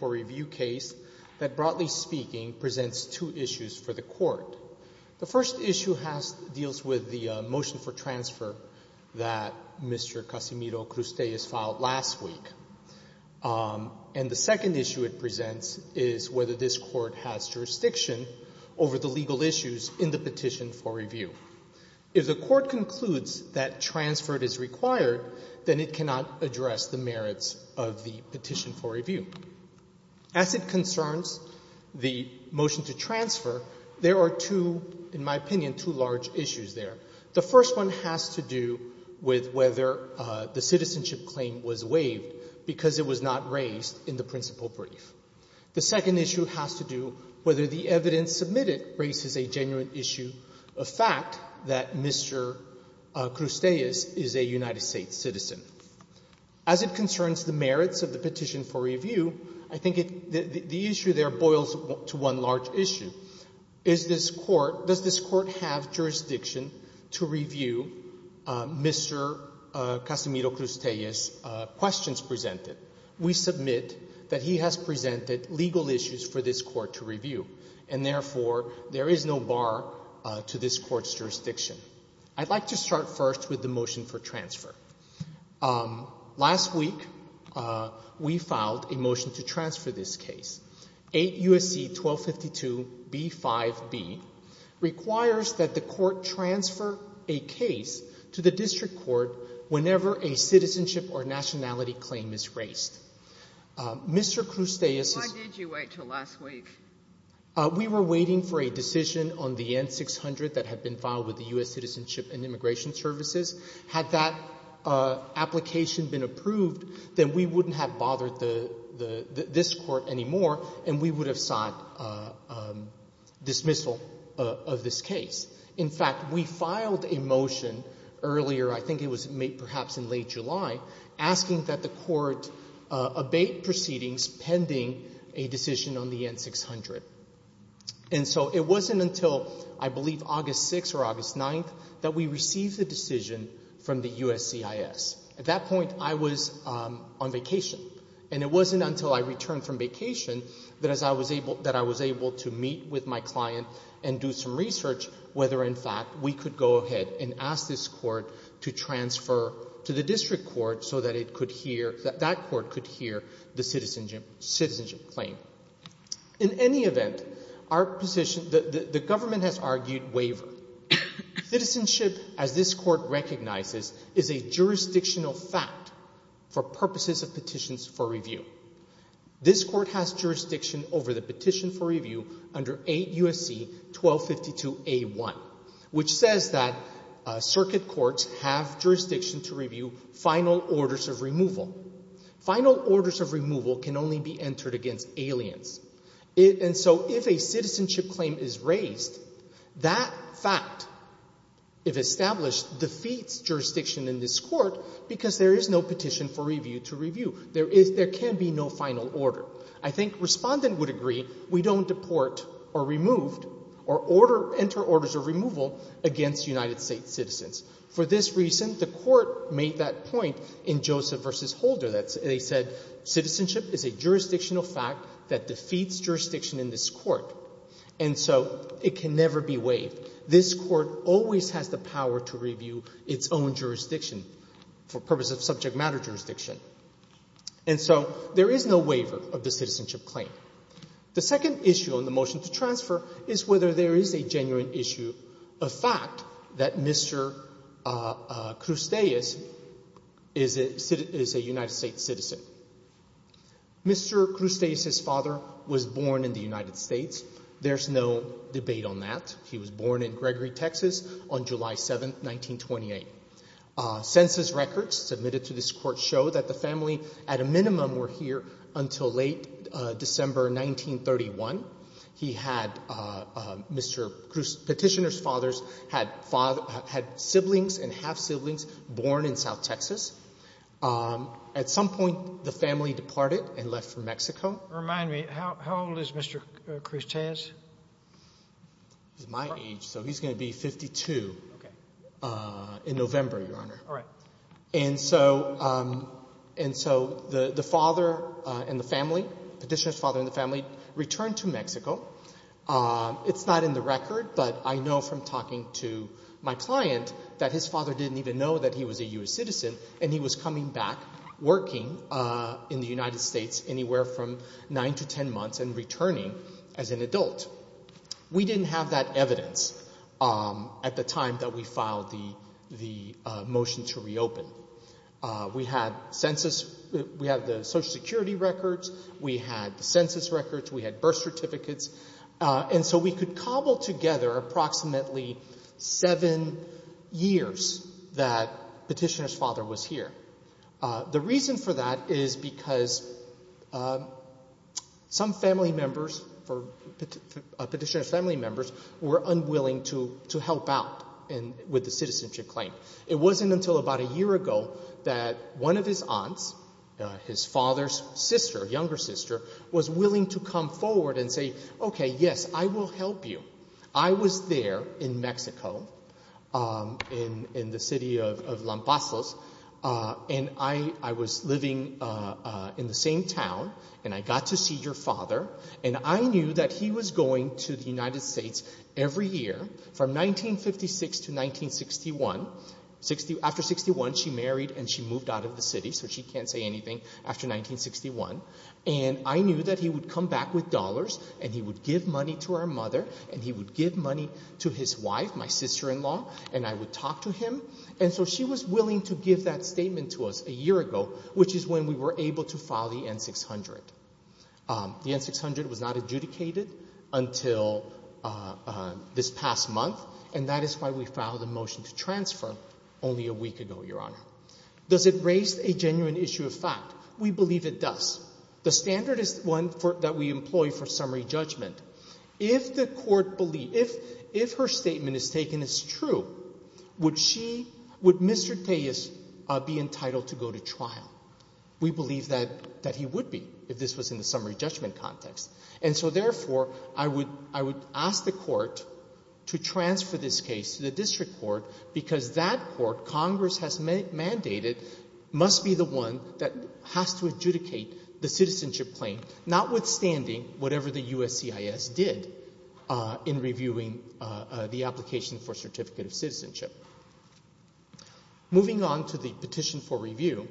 for Review case that, broadly speaking, presents two issues for the court. The first issue deals with the motion for transfer that Mr. Casimiro Cruz Tellez filed last week. And the second issue it presents is whether this court has jurisdiction over the legal issues in the petition for review. If the court concludes that transfer is required, then it cannot address the merits of the petition for review. As it concerns the motion to transfer, there are two, in my opinion, two large issues there. The first one has to do with whether the citizenship claim was waived because it was not raised in the principal brief. The second issue has to do whether the evidence submitted raises a genuine issue of fact that Mr. Cruz Tellez is a United States citizen. As it concerns the merits of the petition for review, I think the issue there boils to one large issue. Is this court — does this court have jurisdiction to review Mr. Casimiro Cruz Tellez's questions presented? We submit that he has presented legal issues for this court to review. And therefore, there is no bar to this court's jurisdiction. I'd like to start first with the motion for transfer. Last week, we filed a motion to transfer this case. 8 U.S.C. 1252b5b requires that the court transfer a case to the district court whenever a citizenship or nationality claim is raised. Mr. Cruz Tellez has — Why did you wait until last week? We were waiting for a decision on the N-600 that had been filed with the U.S. Citizenship and Immigration Services. Had that application been approved, then we wouldn't have bothered the — this court anymore, and we would have sought dismissal of this case. In fact, we filed a motion earlier — I think it was made perhaps in late July — asking that the court abate proceedings pending a decision on the N-600. And so it wasn't until, I believe, August 6 or August 9 that we received the decision from the USCIS. At that point, I was on vacation, and it wasn't until I returned from vacation that I was able to meet with my client and do some research whether, in fact, we could go ahead and ask this court to transfer to the district court so that it could hear — that that court could hear the citizenship claim. In any event, our position — the government has argued waiver. Citizenship, as this court recognizes, is a jurisdictional fact for purposes of petitions for review. This court has jurisdiction over the petition for review under 8 U.S.C. 1252a1, which says that circuit courts in Congress have jurisdiction to review final orders of removal. Final orders of removal can only be entered against aliens. And so if a citizenship claim is raised, that fact, if established, defeats jurisdiction in this court because there is no petition for review to review. There is — there can be no final order. I think Respondent would agree we don't deport or remove or order — enter orders of removal against United States citizens. For this reason, the court made that point in Joseph v. Holder that they said citizenship is a jurisdictional fact that defeats jurisdiction in this court. And so it can never be waived. This court always has the power to review its own jurisdiction for purposes of subject matter jurisdiction. And so there is no waiver of the citizenship claim. The second issue on the motion to transfer is whether there is a genuine issue of fact that Mr. Crustease is a United States citizen. Mr. Crustease's father was born in the United States. There's no debate on that. He was born in Gregory, Texas, on July 7, 1928. Census records submitted to this court show that the family, at a minimum, were here until late December 1931. He had — Mr. Crustease — Petitioner's father had father — had siblings and half-siblings born in South Texas. At some point, the family departed and left for Mexico. Sotomayor, remind me, how old is Mr. Crustease? He's my age, so he's going to be 52 in November, Your Honor. All right. And so — and so the father and the family, Petitioner's father and the family, returned to Mexico. It's not in the record, but I know from talking to my client that his father didn't even know that he was a U.S. citizen, and he was coming back working in the United States anywhere from 9 to 10 months and returning as an adult. We didn't have that evidence at the time that we filed the — the motion to reopen. We had census — we had the Social Security records. We had the census records. We had birth certificates. And so we could cobble together approximately seven years that Petitioner's father was here. The reason for that is because some family members for — Petitioner's family members were unwilling to help out with the citizenship claim. It wasn't until about a year ago that one of his aunts, his father's sister, younger sister, was willing to come forward and say, OK, yes, I will help you. I was there in Mexico, in the city of Lampasos, and I was living in the same town, and I got to see your father, and I knew that he was going to the United States every year from 1956 to 1961. After 61, she married and she moved out of the city, so she can't say anything after 1961. And I knew that he would come back with dollars, and he would give money to our mother, and he would give money to his wife, my sister-in-law, and I would talk to him. And so she was willing to give that to us a year ago, which is when we were able to file the N-600. The N-600 was not adjudicated until this past month, and that is why we filed a motion to transfer only a week ago, Your Honor. Does it raise a genuine issue of fact? We believe it does. The standard is one that we employ for summary judgment. If the Court believes — if her statement is taken as true, would she — would Mr. Tejas be entitled to go to trial? We believe that he would be, if this was in the summary judgment context. And so, therefore, I would — I would ask the Court to transfer this case to the district court, because that court, Congress has mandated, must be the one that has to adjudicate the citizenship claim, notwithstanding whatever the USCIS did in reviewing the application for certificate of citizenship. Moving on to the petition for review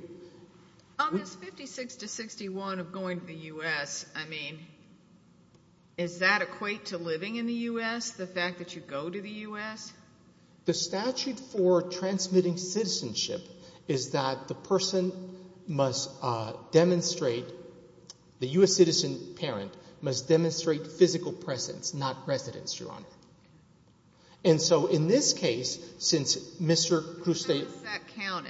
— On this 56 to 61 of going to the U.S., I mean, is that equate to living in the U.S., the fact that you go to the U.S.? The statute for transmitting citizenship is that the person must demonstrate — the U.S. citizen parent must demonstrate physical presence, not residence, Your Honor. And so, in this case, since Mr. Kruste — How does that count?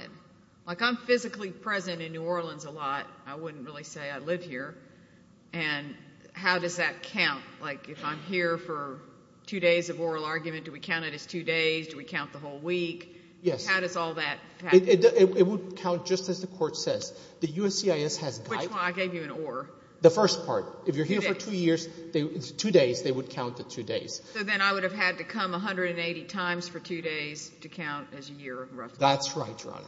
Like, I'm physically present in New Orleans a lot. I wouldn't really say I live here. And how does that count? Like, if I'm here for two days of oral argument, do we count it as two days? Do we count the whole week? Yes. How does all that — It would count just as the Court says. The USCIS has guided — Which one? I gave you an or. The first part. If you're here for two years, two days, they would count the two days. So then I would have had to come 180 times for two days to count as a year, roughly. That's right, Your Honor.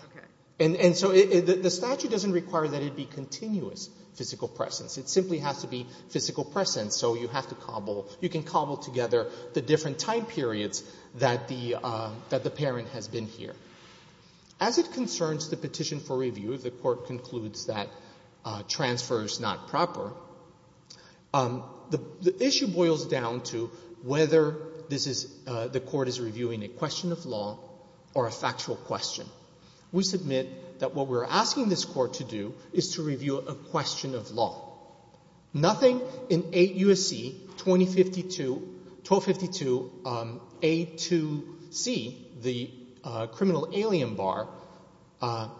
And so the statute doesn't require that it be continuous physical presence. It simply has to be physical presence. So you have to cobble — you can cobble together the different time periods that the parent has been here. As it concerns the petition for review, if the Court concludes that transfer is not proper, the issue boils down to whether this is — the Court is reviewing a question of law or a factual question. We submit that what we're asking this Court to do is to review a question of law. Nothing in 8 U.S.C. 2052 — 1252A2C, the criminal alien bar,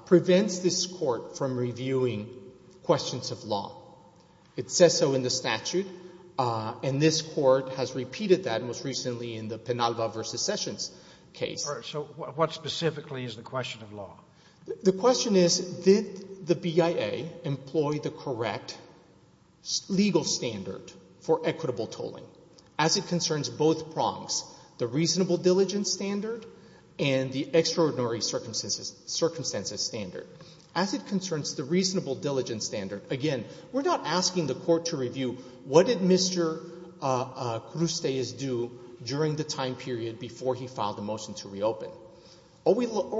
prevents this Court from reviewing questions of law. It says so in the statute, and this Court has repeated that most recently in the Penalva v. Sessions case. So what specifically is the question of law? The question is, did the BIA employ the correct legal standard for equitable tolling as it concerns both prongs, the reasonable diligence standard and the extraordinary circumstances standard? As it concerns the reasonable diligence standard, again, we're not asking the Court to review what did Mr. Crusteas do during the time period before he filed the motion to reopen. All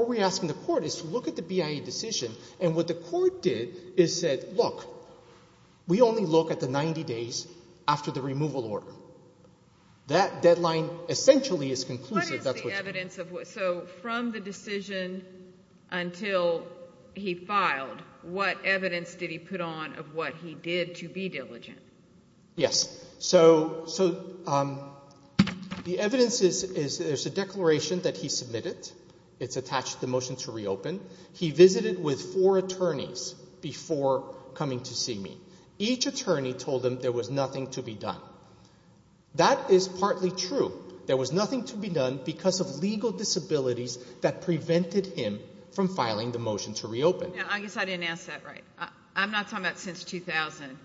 we're asking the Court is to look at the BIA decision, and what the Court did is said, look, we only look at the 90 days after the removal order. That deadline essentially is conclusive. What is the evidence of what — so from the decision until he filed, what evidence did he put on of what he did to be diligent? Yes. So the evidence is there's a declaration that he submitted. It's attached to the motion to reopen. He visited with four attorneys before coming to see me. Each attorney told him there was nothing to be done. That is partly true. There was nothing to be done because of legal disabilities that prevented him from filing the motion to reopen. I guess I didn't ask that right. I'm not talking about since 2000.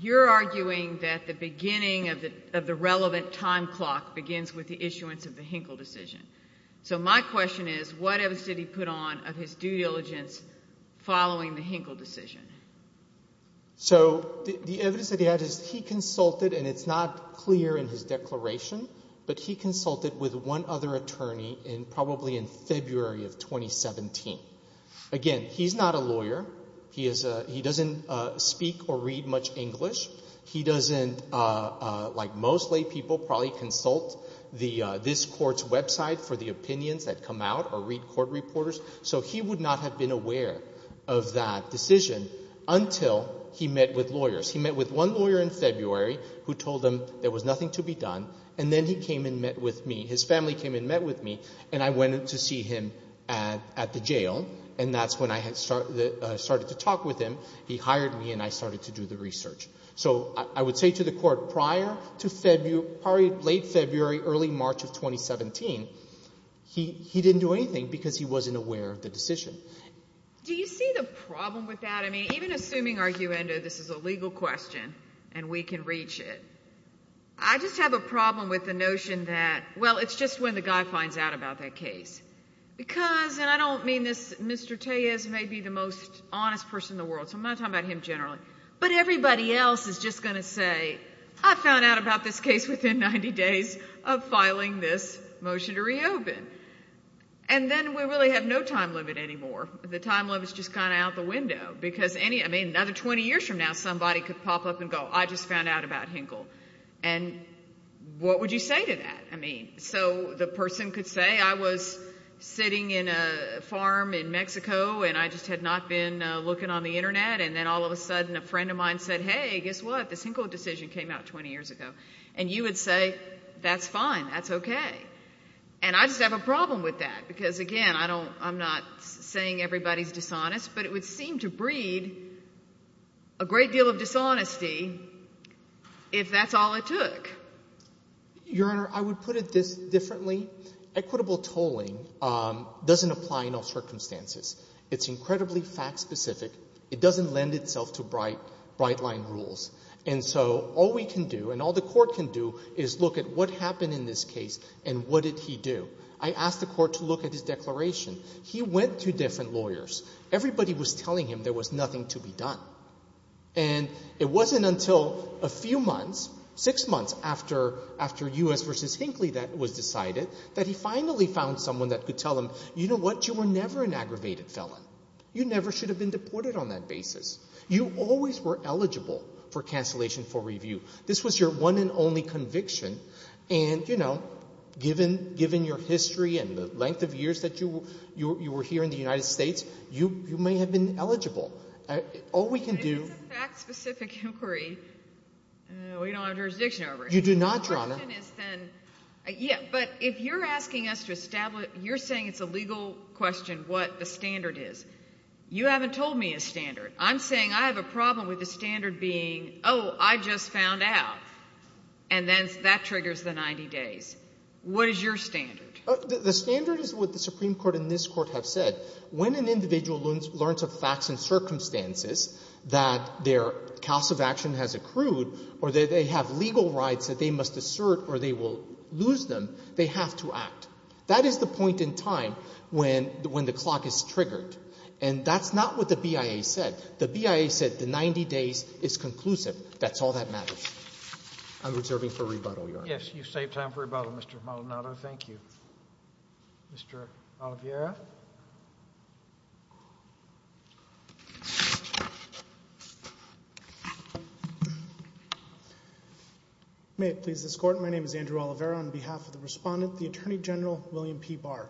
You're arguing that the beginning of the relevant time clock begins with the issuance of the Hinkle decision. So my question is, what evidence did he put on of his due diligence following the Hinkle decision? So the evidence that he had is he consulted, and it's not clear in his declaration, but he consulted with one other attorney in probably in February of 2017. Again, he's not a lawyer. He doesn't speak or read much English. He doesn't, like most lay people, probably consult this court's website for the opinions that come out or read court reporters. So he would not have been aware of that decision until he met with lawyers. He met with one lawyer in February who told him there was nothing to be done, and then he came and met with me. His family came and met with me, and I went to see him at the jail, and that's when I started to talk with him. He hired me, and I started to do the research. So I would say to the Court, prior to February, probably late February, early March of 2017, he didn't do anything because he wasn't aware of the decision. Do you see the problem with that? I mean, even assuming, arguendo, this is a legal question and we can reach it, I just have a problem with the notion that, well, it's just when the guy finds out about that case. Because, and I don't mean this, Mr. Tejas may be the most honest person in the world, so I'm not talking about him generally, but everybody else is just going to say, I found out about this case within 90 days of the time limit. I mean, another 20 years from now, somebody could pop up and go, I just found out about Hinkle. And what would you say to that? So the person could say, I was sitting in a farm in Mexico, and I just had not been looking on the internet, and then all of a sudden a friend of mine said, hey, guess what, this Hinkle decision came out 20 years ago. And you would say, that's fine, that's okay. And I just have a problem with that. Because, again, I don't, I'm not saying everybody's dishonest, but it would seem to breed a great deal of dishonesty if that's all it took. Your Honor, I would put it this differently. Equitable tolling doesn't apply in all circumstances. It's incredibly fact-specific. It doesn't lend itself to bright, bright-line rules. And so all we can do, and all the Court can do, is look at what happened in this case, and what did he do. I asked the Court to look at his declaration. He went to different lawyers. Everybody was telling him there was nothing to be done. And it wasn't until a few months, six months after U.S. v. Hinkle was decided, that he finally found someone that could tell him, you know what, you were never an aggravated felon. You never should have been deported on that basis. You always were eligible for cancellation for review. This was your one and only conviction. And, you know, given your history and the length of years that you were here in the United States, you may have been eligible. All we can do... If it's a fact-specific inquiry, we don't have jurisdiction over it. You do not, Your Honor. The question is then, yeah, but if you're asking us to establish, you're saying it's a legal question what the standard is. You haven't told me a standard. I'm saying I have a problem with the standard being, oh, I just found out. And then that triggers the 90 days. What is your standard? The standard is what the Supreme Court and this Court have said. When an individual learns of facts and circumstances that their cause of action has accrued or that they have legal rights that they must assert or they will lose them, they have to act. That is the point in time when the clock is triggered. And that's not what the BIA said. The BIA said the 90 days is conclusive. That's all that matters. I'm reserving for rebuttal, Your Honor. Yes, you've saved time for rebuttal, Mr. Maldonado. Thank you. Mr. Oliveira? May it please this Court, my name is Andrew Oliveira. On behalf of the respondent, the Attorney General William P. Barr,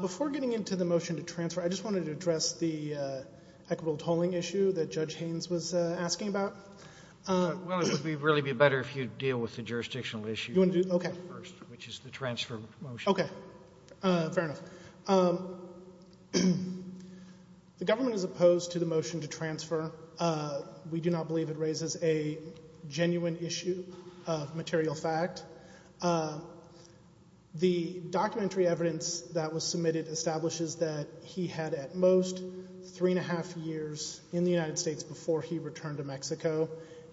before getting into the motion to transfer, I just wanted to address the equitable tolling issue that Judge Haynes was asking about. Well, it would really be better if you'd deal with the jurisdictional issue first, which is the transfer motion. Okay. Fair enough. The government is opposed to the motion to transfer. We do not believe it raises a genuine issue of material fact. The documentary evidence that was submitted establishes that he had at most three and a half years in the United States before he returned to Mexico,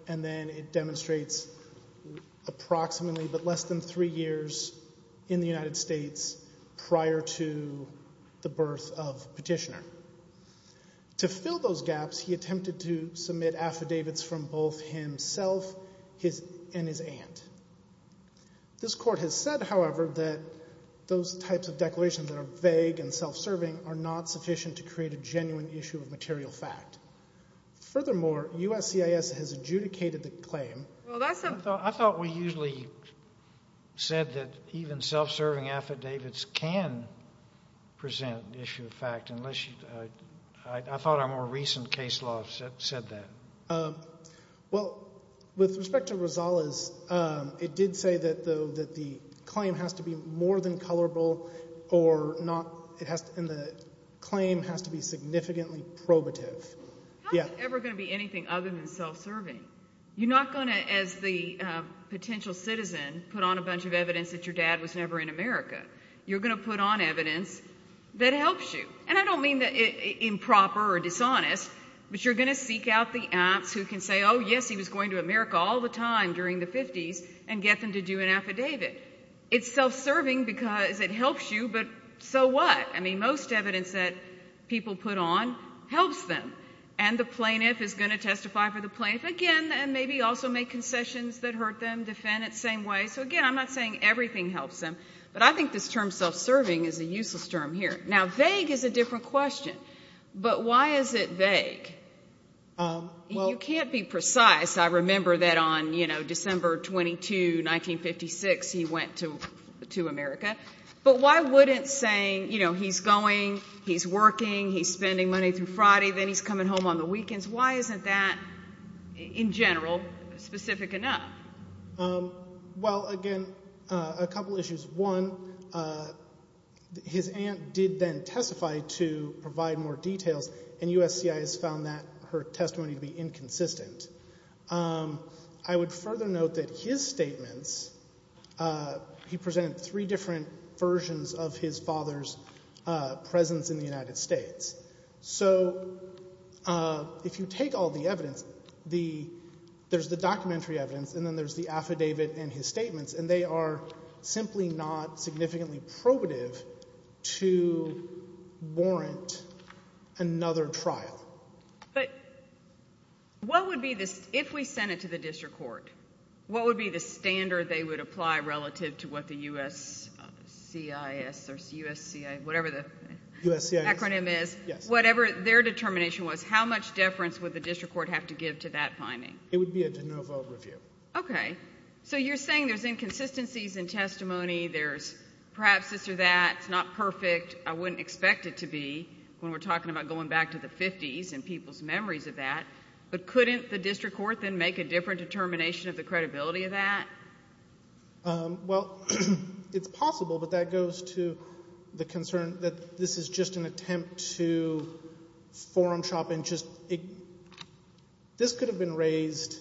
and then it demonstrates approximately but less than three years in the United States prior to the birth of Petitioner. To fill those gaps, he attempted to submit affidavits from both himself and his aunt. This Court has said, however, that those types of declarations that are vague and self-serving are not sufficient to create a genuine issue of material fact. Furthermore, USCIS has adjudicated the claim. I thought we usually said that even self-serving affidavits can present issue of fact. I thought our more recent case law said that. Well, with respect to Rosales, it did say, though, that the claim has to be more than colorable, and the claim has to be significantly probative. How is it ever going to be anything other than self-serving? You're not going to, as the potential citizen, put on a bunch of evidence that your dad was never in America. You're going to put on evidence that helps you. And I don't mean improper or dishonest, but you're going to seek out the aunts who can say, oh, yes, he was going to America all the time during the 50s, and get them to do an affidavit. It's self-serving because it helps you, but so what? I mean, most evidence that people put on helps them. And the plaintiff is going to testify for the plaintiff again, and maybe also make concessions that hurt them, defend it the same way. So, again, I'm not saying everything helps them, but I think this term self-serving is a useless term here. Now, vague is a different question, but why is it vague? You can't be precise. I remember that on, you know, December 22, 1956, he went to America. But why wouldn't saying, you know, he's going, he's working, he's spending money through Friday, then he's coming home on the weekends, why isn't that, in general, specific enough? Well, again, a couple issues. One, his aunt did then testify to provide more details, and USCIS found that, her testimony, to be inconsistent. I would further note that his statements, he presented three different versions of his father's presence in the United States. So, if you take all the evidence, the, there's the documentary evidence, and then there's the affidavit and his statements, and they are simply not significantly probative to warrant another trial. But what would be the, if we sent it to the district court, what would be the standard they would apply relative to what the USCIS, or USCIS, whatever the acronym is, whatever their determination was, how much deference would the district court have to give to that finding? It would be a de novo review. Okay. So, you're saying there's inconsistencies in testimony, there's perhaps this or that, it's not perfect, I wouldn't expect it to be when we're talking about going back to the 50s and people's memories of that. But couldn't the district court then make a different determination of the credibility of that? Well, it's possible, but that goes to the concern that this is just an attempt to forum shop and just, this could have been raised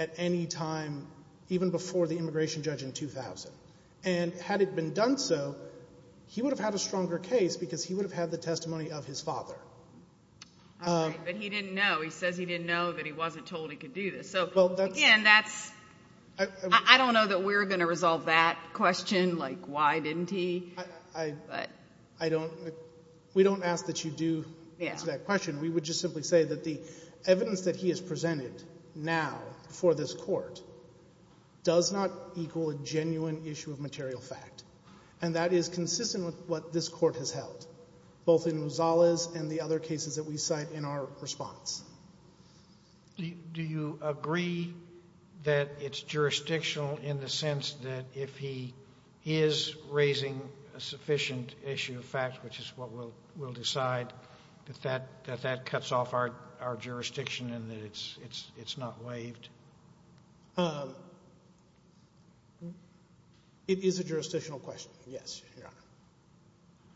at any time, even before the immigration judge in 2000. And had it been done so, he would have had a stronger case because he would have had the testimony of his father. All right, but he didn't know, he says he didn't know that he wasn't told he could do this. Again, that's, I don't know that we're going to resolve that question, like why didn't he? I don't, we don't ask that you do answer that question. We would just simply say that the evidence that he has presented now for this court does not equal a genuine issue of material fact. And that is consistent with what this court has held, both in Rosales and the other cases that we cite in our response. Do you agree that it's jurisdictional in the sense that if he is raising a sufficient issue of fact, which is what we'll decide, that that cuts off our jurisdiction and that it's not waived? It is a jurisdictional question, yes, Your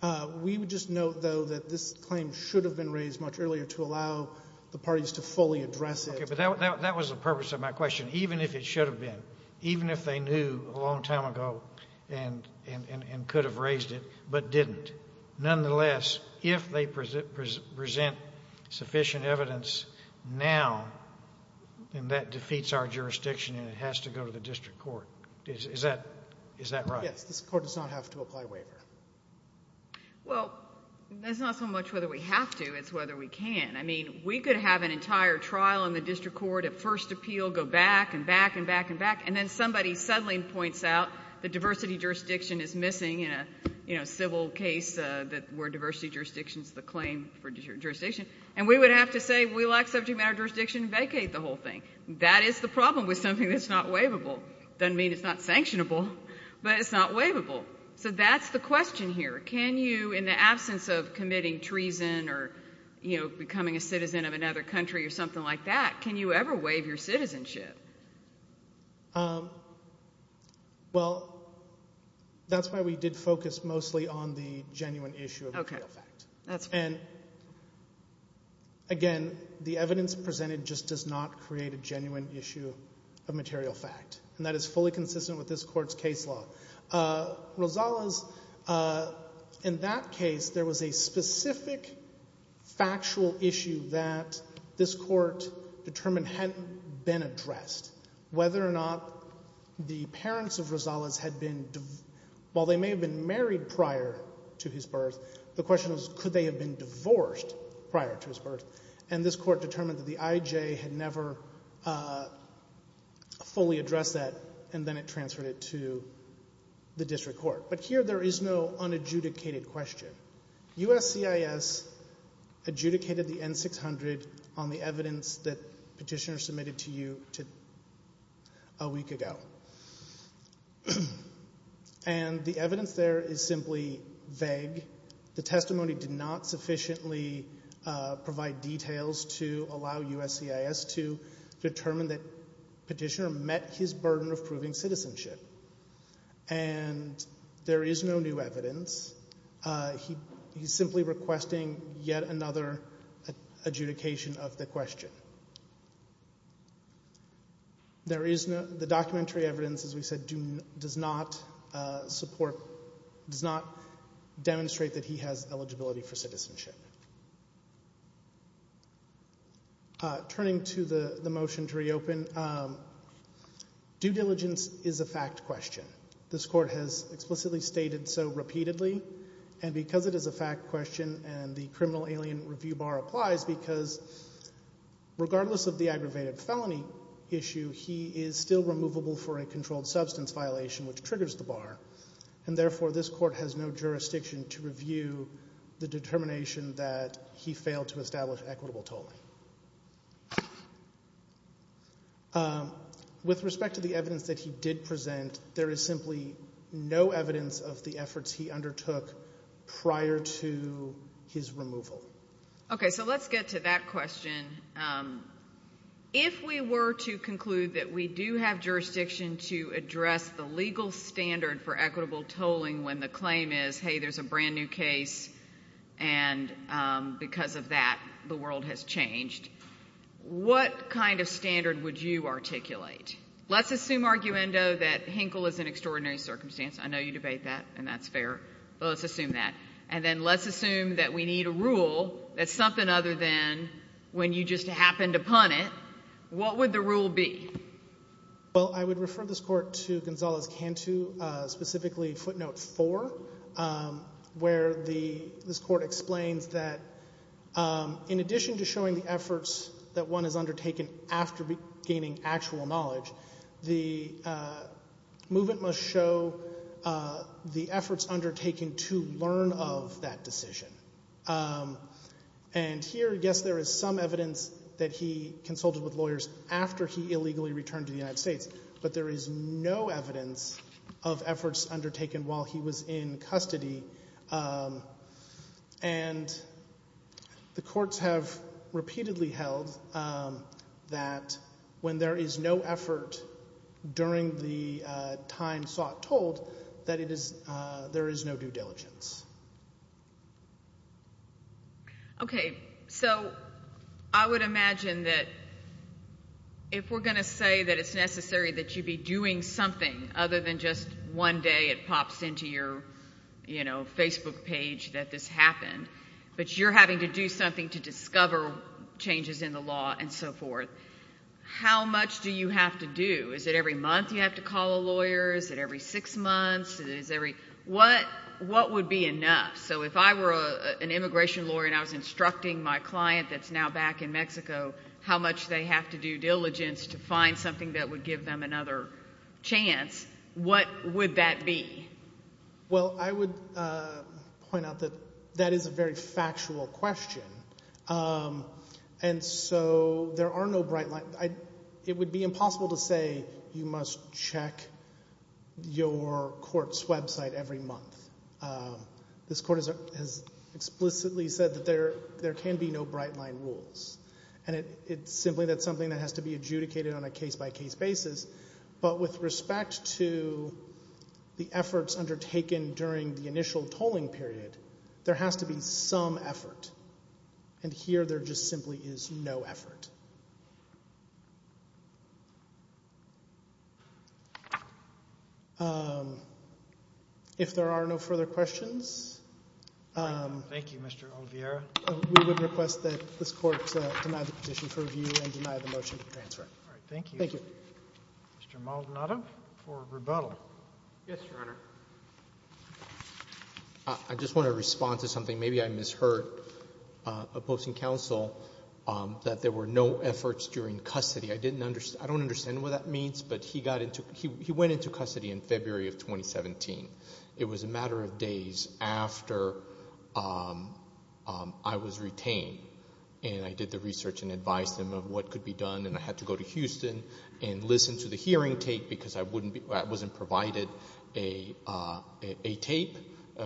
Honor. We would just note, though, that this claim should have been raised much earlier to allow the parties to fully address it. Okay, but that was the purpose of my question. Even if it should have been, even if they knew a long time ago and could have raised it but didn't, nonetheless, if they present sufficient evidence now, then that defeats our jurisdiction and it has to go to the district court. Is that right? Yes, this court does not have to apply waiver. Well, that's not so much whether we have to, it's whether we can. I mean, we could have an entire trial in the district court at first appeal, go back and back and back and back, and then somebody suddenly points out the diversity jurisdiction is missing in a civil case where diversity jurisdiction is the claim for jurisdiction. And we would have to say, we lack subject matter jurisdiction, vacate the whole thing. That is the problem with something that's not waivable. Doesn't mean it's not sanctionable, but it's not waivable. So that's the question here. Can you, in the absence of committing treason or becoming a citizen of another country or something like that, can you ever waive your citizenship? Well, that's why we did focus mostly on the genuine issue of material fact. Again, the evidence presented just does not create a genuine issue of material fact, and that is fully consistent with this court's case law. Rosales, in that case, there was a specific factual issue that this court determined hadn't been addressed, whether or not the parents of Rosales had been, while they may have been married prior to his birth, the question was, could they have been divorced prior to his birth? And this court determined that the IJ had never fully addressed that, and then it transferred it to the district court. But here, there is no unadjudicated question. USCIS adjudicated the N-600 on the evidence that petitioners submitted to you a week ago. And the evidence there is simply vague. The testimony did not sufficiently provide details to allow USCIS to determine that petitioner met his burden of proving citizenship. And there is no new evidence. He's simply requesting yet another adjudication of the question. The documentary evidence, as we said, does not support, does not demonstrate that he has eligibility for citizenship. Turning to the motion to reopen, due diligence is a fact question. This court has explicitly stated so repeatedly, and because it is a fact question and the criminal alien review bar applies, because regardless of the aggravated felony issue, he is still removable for a controlled substance violation, which triggers the bar. And therefore, this court has no jurisdiction to review the determination that he failed to establish equitable tolling. With respect to the evidence that he did present, there is simply no evidence of the efforts he undertook prior to his removal. Okay, so let's get to that question. If we were to conclude that we do have jurisdiction to address the legal standard for equitable tolling when the claim is, hey, there's a brand new case and because of that, the world has changed, what kind of standard would you articulate? Let's assume, arguendo, that Hinkle is in extraordinary circumstance. I know you debate that and that's fair, but let's assume that. And then let's assume that we need a rule that's something other than when you just happened upon it, what would the rule be? Well, I would refer this court to Gonzales-Cantu, specifically footnote four, where this court explains that in addition to showing the efforts that one has undertaken after gaining actual knowledge, the movement must show the efforts undertaken to learn of that decision. And here, yes, there is some evidence that he consulted with lawyers after he illegally returned to the United States, but there is no evidence of efforts undertaken while he was in the United States. So I would imagine that if we're going to say that it's necessary that you be doing something other than just one day it pops into your, you know, Facebook page that this happened, but you're having to do something to discover changes in the law and so forth, how much do you have to do? Is it every month you have to call a lawyer? Is it every six months? What would be enough? So if I were an immigration lawyer and I was instructing my client that's now back in Mexico how much they have to do diligence to find something that would give them another chance, what would that be? Well, I would point out that that is a very factual question. And so there are no bright lines. It would be impossible to say you must check your court's website every month. This court has explicitly said that there can be no bright line rules, and it's simply that's something that has to be adjudicated on a case-by-case basis, but with respect to the efforts undertaken during the initial tolling period, there has to be some effort, and here there just simply is no effort. If there are no further questions. Thank you, Mr. Olviera. We would request that this court deny the petition for review and deny the motion to transfer. All right, thank you. Thank you. Mr. Maldonado for rebuttal. Yes, Your Honor. I just want to respond to something. Maybe I misheard opposing counsel that there were no efforts during custody. I don't understand what that means, but he went into custody in February of 2017. It was a matter of days after I was retained, and I did the research and advised him of what could be done, and I had to go to Houston and listen to the hearing take because I wasn't provided a tape.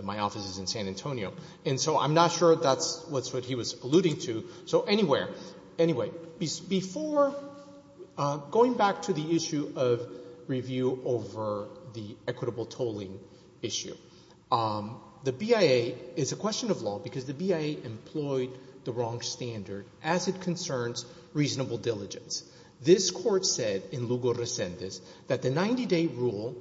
My office is in San Antonio, and so I'm not sure that's what he was alluding to. So anyway, before going back to the issue of review over the equitable tolling issue, the BIA is a question of law because the BIA employed the wrong standard as it concerns reasonable diligence. This court said in Lugo Recentes that the 90-day rule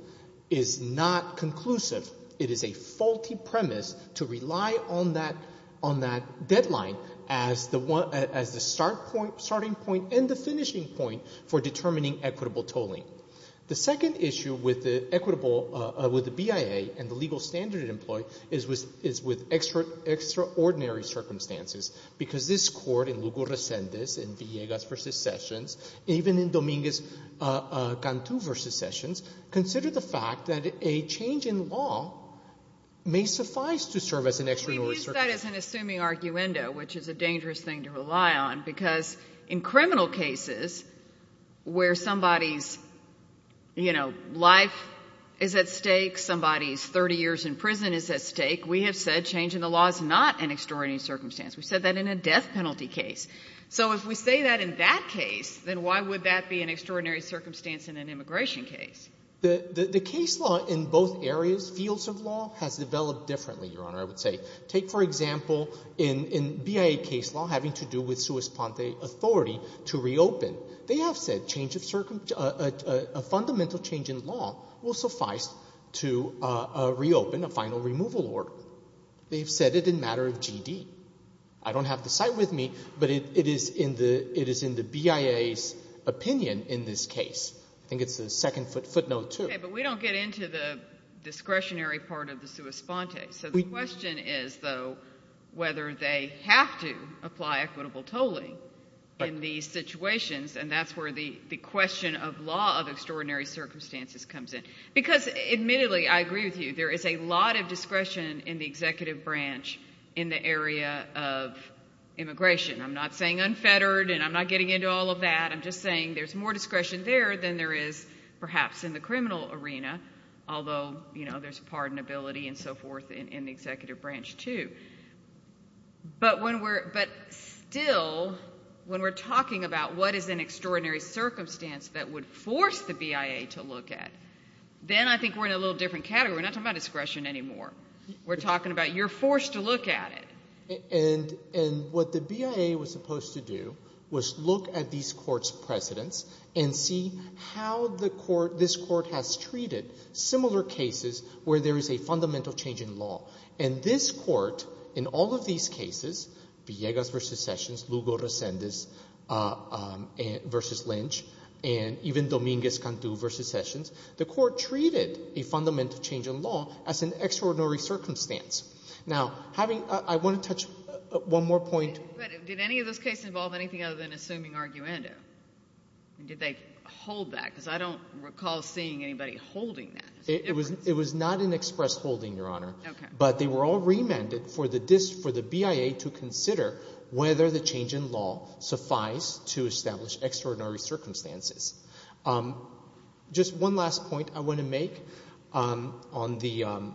is not conclusive. It is a faulty premise to rely on that deadline as the starting point and the finishing point for determining equitable tolling. The second issue with the BIA and the legal standard it is with extraordinary circumstances because this court in Lugo Recentes, in Villegas v. Sessions, even in Dominguez-Cantu v. Sessions, consider the fact that a change in law may suffice to serve as an extraordinary circumstance. We use that as an assuming arguendo, which is a dangerous thing to rely on because in criminal cases where somebody's life is at stake, somebody's 30 years in prison is at stake, we have said change in the law is not an extraordinary circumstance. We said that in a death penalty case. So if we say that in that case, then why would that be an extraordinary circumstance in an immigration case? The case law in both areas, fields of law, has developed differently, Your Honor, I would say. Take, for example, in BIA case law having to do with sua sponte authority to reopen. They have said a fundamental change in law will suffice to reopen a final removal order. They have said it in matter of G.D. I don't have the site with me, but it is in the BIA's opinion in this case. I think it's the second footnote, too. Okay, but we don't get into the discretionary part of the sua sponte. So the question is, though, whether they have to apply equitable tolling in these the question of law of extraordinary circumstances comes in. Because admittedly, I agree with you, there is a lot of discretion in the executive branch in the area of immigration. I'm not saying unfettered, and I'm not getting into all of that. I'm just saying there's more discretion there than there is, perhaps, in the criminal arena. Although, you know, there's pardonability and so forth in the executive branch, too. But when we're, but still, when we're talking about what is an extraordinary circumstance that would force the BIA to look at, then I think we're in a little different category. We're not talking about discretion anymore. We're talking about you're forced to look at it. And what the BIA was supposed to do was look at these courts' precedents and see how the court, this court, has treated similar cases where there is a fundamental change in law. And this court, in all of these cases, Villegas v. Sessions, Lugo-Resendez v. Lynch, and even Dominguez-Cantu v. Sessions, the court treated a fundamental change in law as an extraordinary circumstance. Now, having, I want to touch one more point. But did any of those cases involve anything other than assuming arguendo? And did they hold that? Because I don't recall seeing anybody holding that. It was not an express holding, Your Honor. Okay. But they were all remanded for the BIA to consider whether the change in law suffice to establish extraordinary circumstances. Just one last point I want to make on the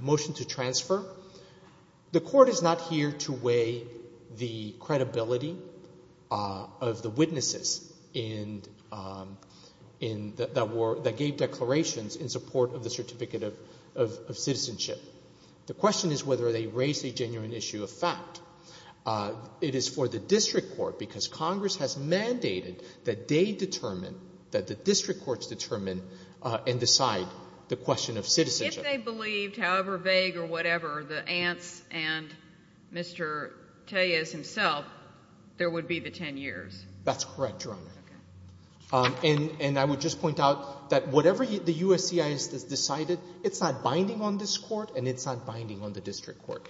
motion to transfer. The court is not here to weigh the credibility of the witnesses that gave declarations in support of the Certificate of Citizenship. The question is whether they raise a genuine issue of fact. It is for the district court, because Congress has mandated that they determine, that the district courts determine and decide the question of citizenship. If they believed, however vague or whatever, the ants and Mr. Tellez himself, there would be the 10 years. That's correct, Your Honor. Okay. And I would just point out that whatever the USCIS has decided, it's not binding on this Court and it's not binding on the district court.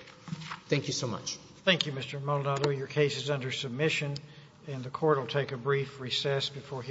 Thank you so much. Thank you, Mr. Maldonado. Your case is under submission.